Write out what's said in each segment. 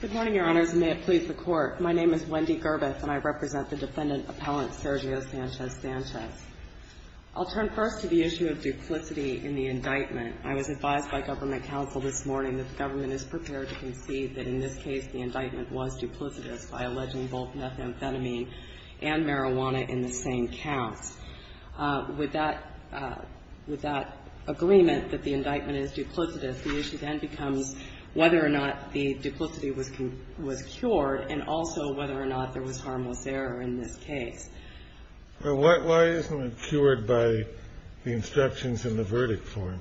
Good morning, Your Honors, and may it please the Court. My name is Wendy Gerbeth, and I represent the Defendant Appellant Sergio Sanchez-Sanchez. I'll turn first to the issue of duplicity in the indictment. I was advised by government counsel this morning that the government is prepared to concede that in this case the indictment was duplicitous by alleging both methamphetamine and marijuana in the same counts. With that agreement that the indictment is duplicitous, the issue then becomes whether or not the duplicity was cured, and also whether or not there was harmless error in this case. Well, why isn't it cured by the instructions in the verdict form?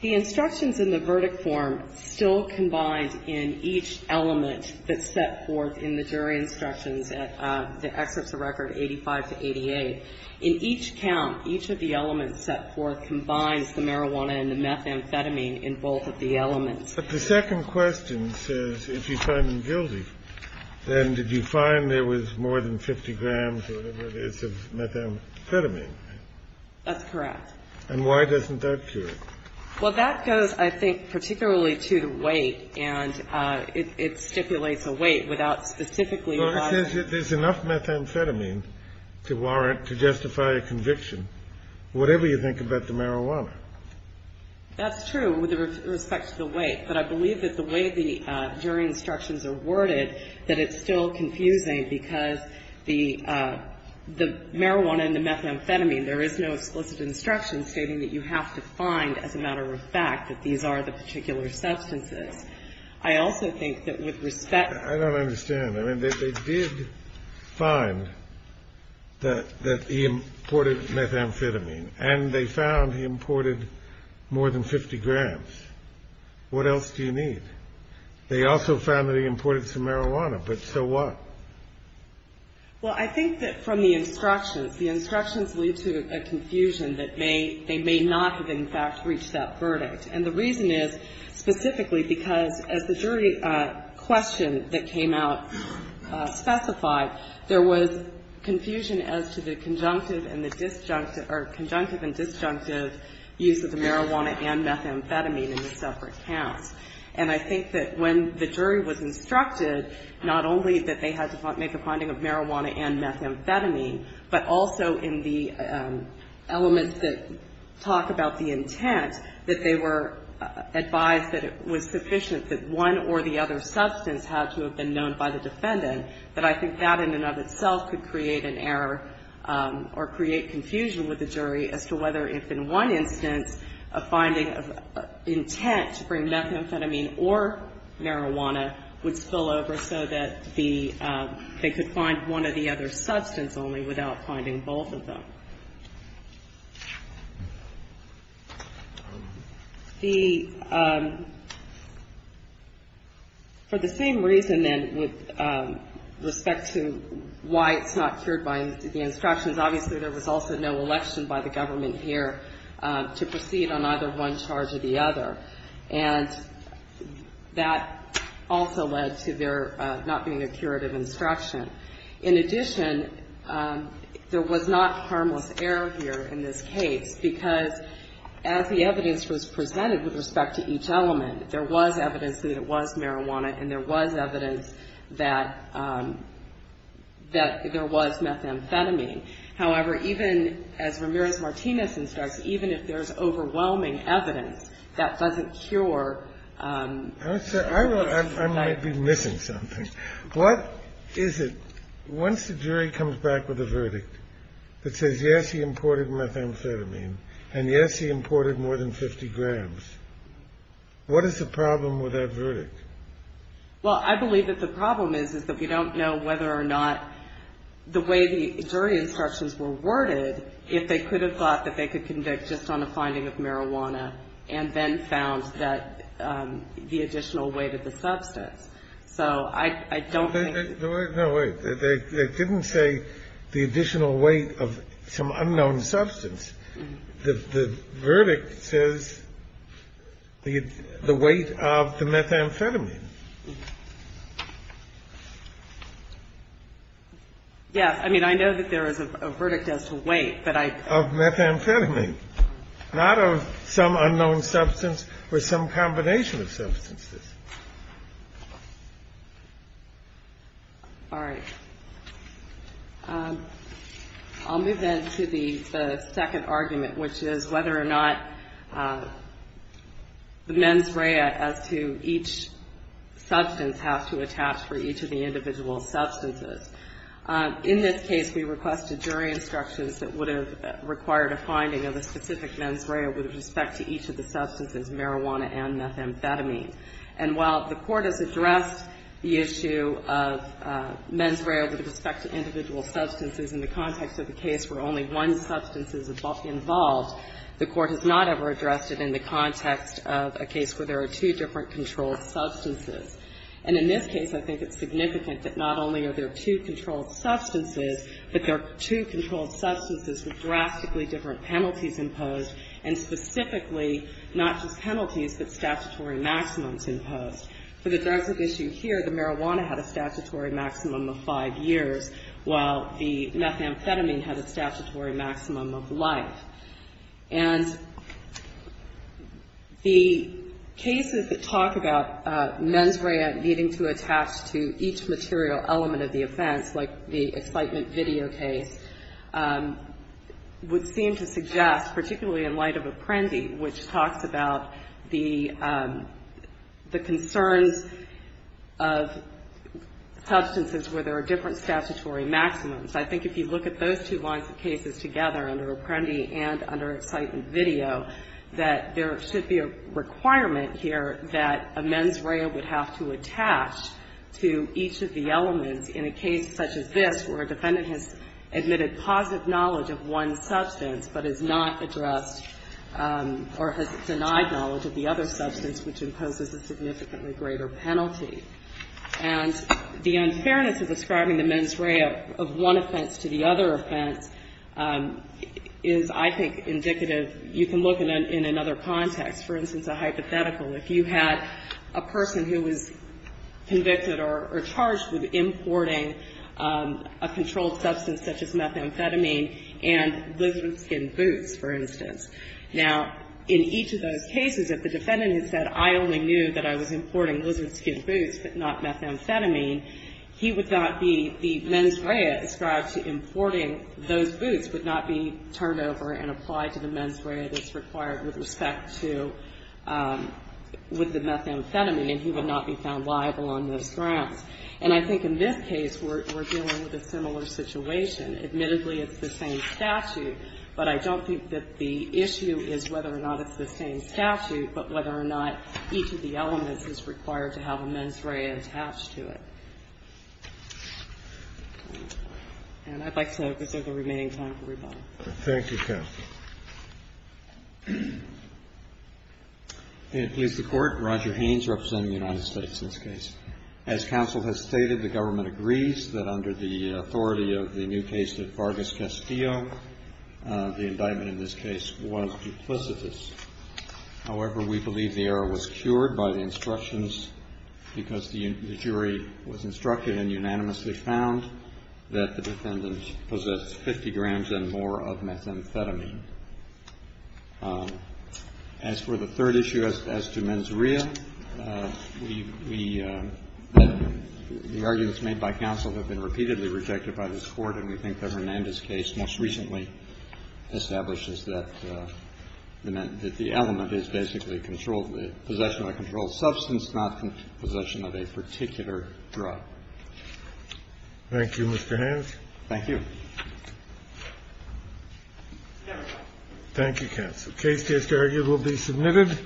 The instructions in the verdict form still combined in each element that's set forth in the jury instructions at the excerpts of Record No. 85 to 88. In each count, each of the elements set forth combines the marijuana and the methamphetamine in both of the elements. But the second question says if you find them guilty, then did you find there was more than 50 grams or whatever it is of methamphetamine? That's correct. And why doesn't that cure it? Well, that goes, I think, particularly to the weight, and it stipulates a weight without specifically providing. But there's enough methamphetamine to warrant, to justify a conviction, whatever you think about the marijuana. That's true with respect to the weight. But I believe that the way the jury instructions are worded, that it's still confusing, because the marijuana and the methamphetamine, there is no explicit instruction stating that you have to find, as a matter of fact, that these are the particular substances. I also think that with respect to the weight. I don't understand. I mean, they did find that he imported methamphetamine, and they found he imported more than 50 grams. What else do you need? They also found that he imported some marijuana, but so what? Well, I think that from the instructions, the instructions lead to a confusion that they may not have, in fact, reached that verdict. And the reason is specifically because, as the jury question that came out specified, there was confusion as to the conjunctive and the disjunctive, or conjunctive and disjunctive use of the marijuana and methamphetamine in the separate counts. And I think that when the jury was instructed, not only that they had to make a finding of marijuana and methamphetamine, but also in the elements that talk about the intent, that they were advised that it was sufficient that one or the other substance had to have been known by the defendant, that I think that in and of itself could create an error or create confusion with the jury as to whether if in one instance a finding of intent to bring methamphetamine or marijuana would spill over so that the, they could find one or the other substance only without finding both of them. The, for the same reason, then, with respect to why it's not cured by the instructions, obviously there was also no election by the government here to proceed on either one charge or the other. And that also led to there not being a curative instruction. In addition, there was not harmless error here in this case, because as the evidence was presented with respect to each element, there was evidence that it was marijuana and there was evidence that there was methamphetamine. However, even as Ramirez-Martinez instructs, even if there's overwhelming evidence that doesn't cure... I might be missing something. What is it, once the jury comes back with a verdict that says, yes, he imported methamphetamine, and yes, he imported more than 50 grams, what is the problem with that verdict? Well, I believe that the problem is, is that we don't know whether or not the way the jury instructions were worded, if they could have thought that they could convict just on a finding of marijuana and then found that the additional weight of the substance. So I don't think... No, wait. They didn't say the additional weight of some unknown substance. The verdict says the weight of the methamphetamine. Yes. I mean, I know that there is a verdict as to weight, but I... Of methamphetamine, not of some unknown substance or some combination of substances. All right. I'll move then to the second argument, which is whether or not the mens rea as to each substance has to attach for each of the individual substances. In this case, we requested jury instructions that would have required a finding of a specific mens rea with respect to each of the substances. And while the Court has addressed the issue of mens rea with respect to individual substances in the context of a case where only one substance is involved, the Court has not ever addressed it in the context of a case where there are two different controlled substances. And in this case, I think it's significant that not only are there two controlled substances, but there are two controlled substances with drastically different penalties imposed, and specifically not just penalties, but statutory maximums imposed. For the drugs at issue here, the marijuana had a statutory maximum of five years, while the methamphetamine had a statutory maximum of life. And the cases that talk about mens rea needing to attach to each material element of the offense, like the excitement video case, would seem to suggest, particularly in light of Apprendi, which talks about the concept of mens rea as to each substance being attached to each element of the offense, that there are concerns of substances where there are different statutory maximums. I think if you look at those two lines of cases together under Apprendi and under excitement video, that there should be a requirement here that a mens rea would have to attach to each of the elements in a case such as this where a defendant has admitted positive knowledge of one substance, but has not addressed or has denied knowledge of the other substance, which imposes a significant penalty. And the unfairness of describing the mens rea of one offense to the other offense is, I think, indicative. You can look in another context. For instance, a hypothetical. If you had a person who was convicted or charged with importing a controlled substance such as methamphetamine and lizard skin boots, for instance. Now, in each of those cases, if the defendant had said, I only knew that I was importing lizard skin boots, but not methamphetamine, he would not be, the mens rea ascribed to importing those boots would not be turned over and applied to the mens rea that's required with respect to, with the methamphetamine, and he would not be found liable on those grounds. And I think in this case, we're dealing with a similar situation. Admittedly, it's the same statute, but I don't think that the issue is whether or not it's the same statute, but whether or not each of the elements is required to have a mens rea attached to it. And I'd like to reserve the remaining time for rebuttal. Thank you, counsel. May it please the Court. Roger Haynes representing the United States in this case. As counsel has stated, the government agrees that under the authority of the new case of Vargas Castillo, the indictment in this case was duplicitous. However, we believe the error was cured by the instructions because the jury was instructed and unanimously found that the defendant possessed 50 grams and more of methamphetamine. As for the third issue as to mens rea, we, the arguments made by counsel have been very clear. We believe that the defendant possessed 50 grams and more of methamphetamine. The evidence, however, is that the defendant possessed 50 grams of methamphetamine. The evidence has been repeatedly rejected by this Court, and we think that Hernandez's case most recently establishes that the element is basically possession of a controlled substance, not a possession of a particular drug. Thank you, Mr. Haynes. Thank you.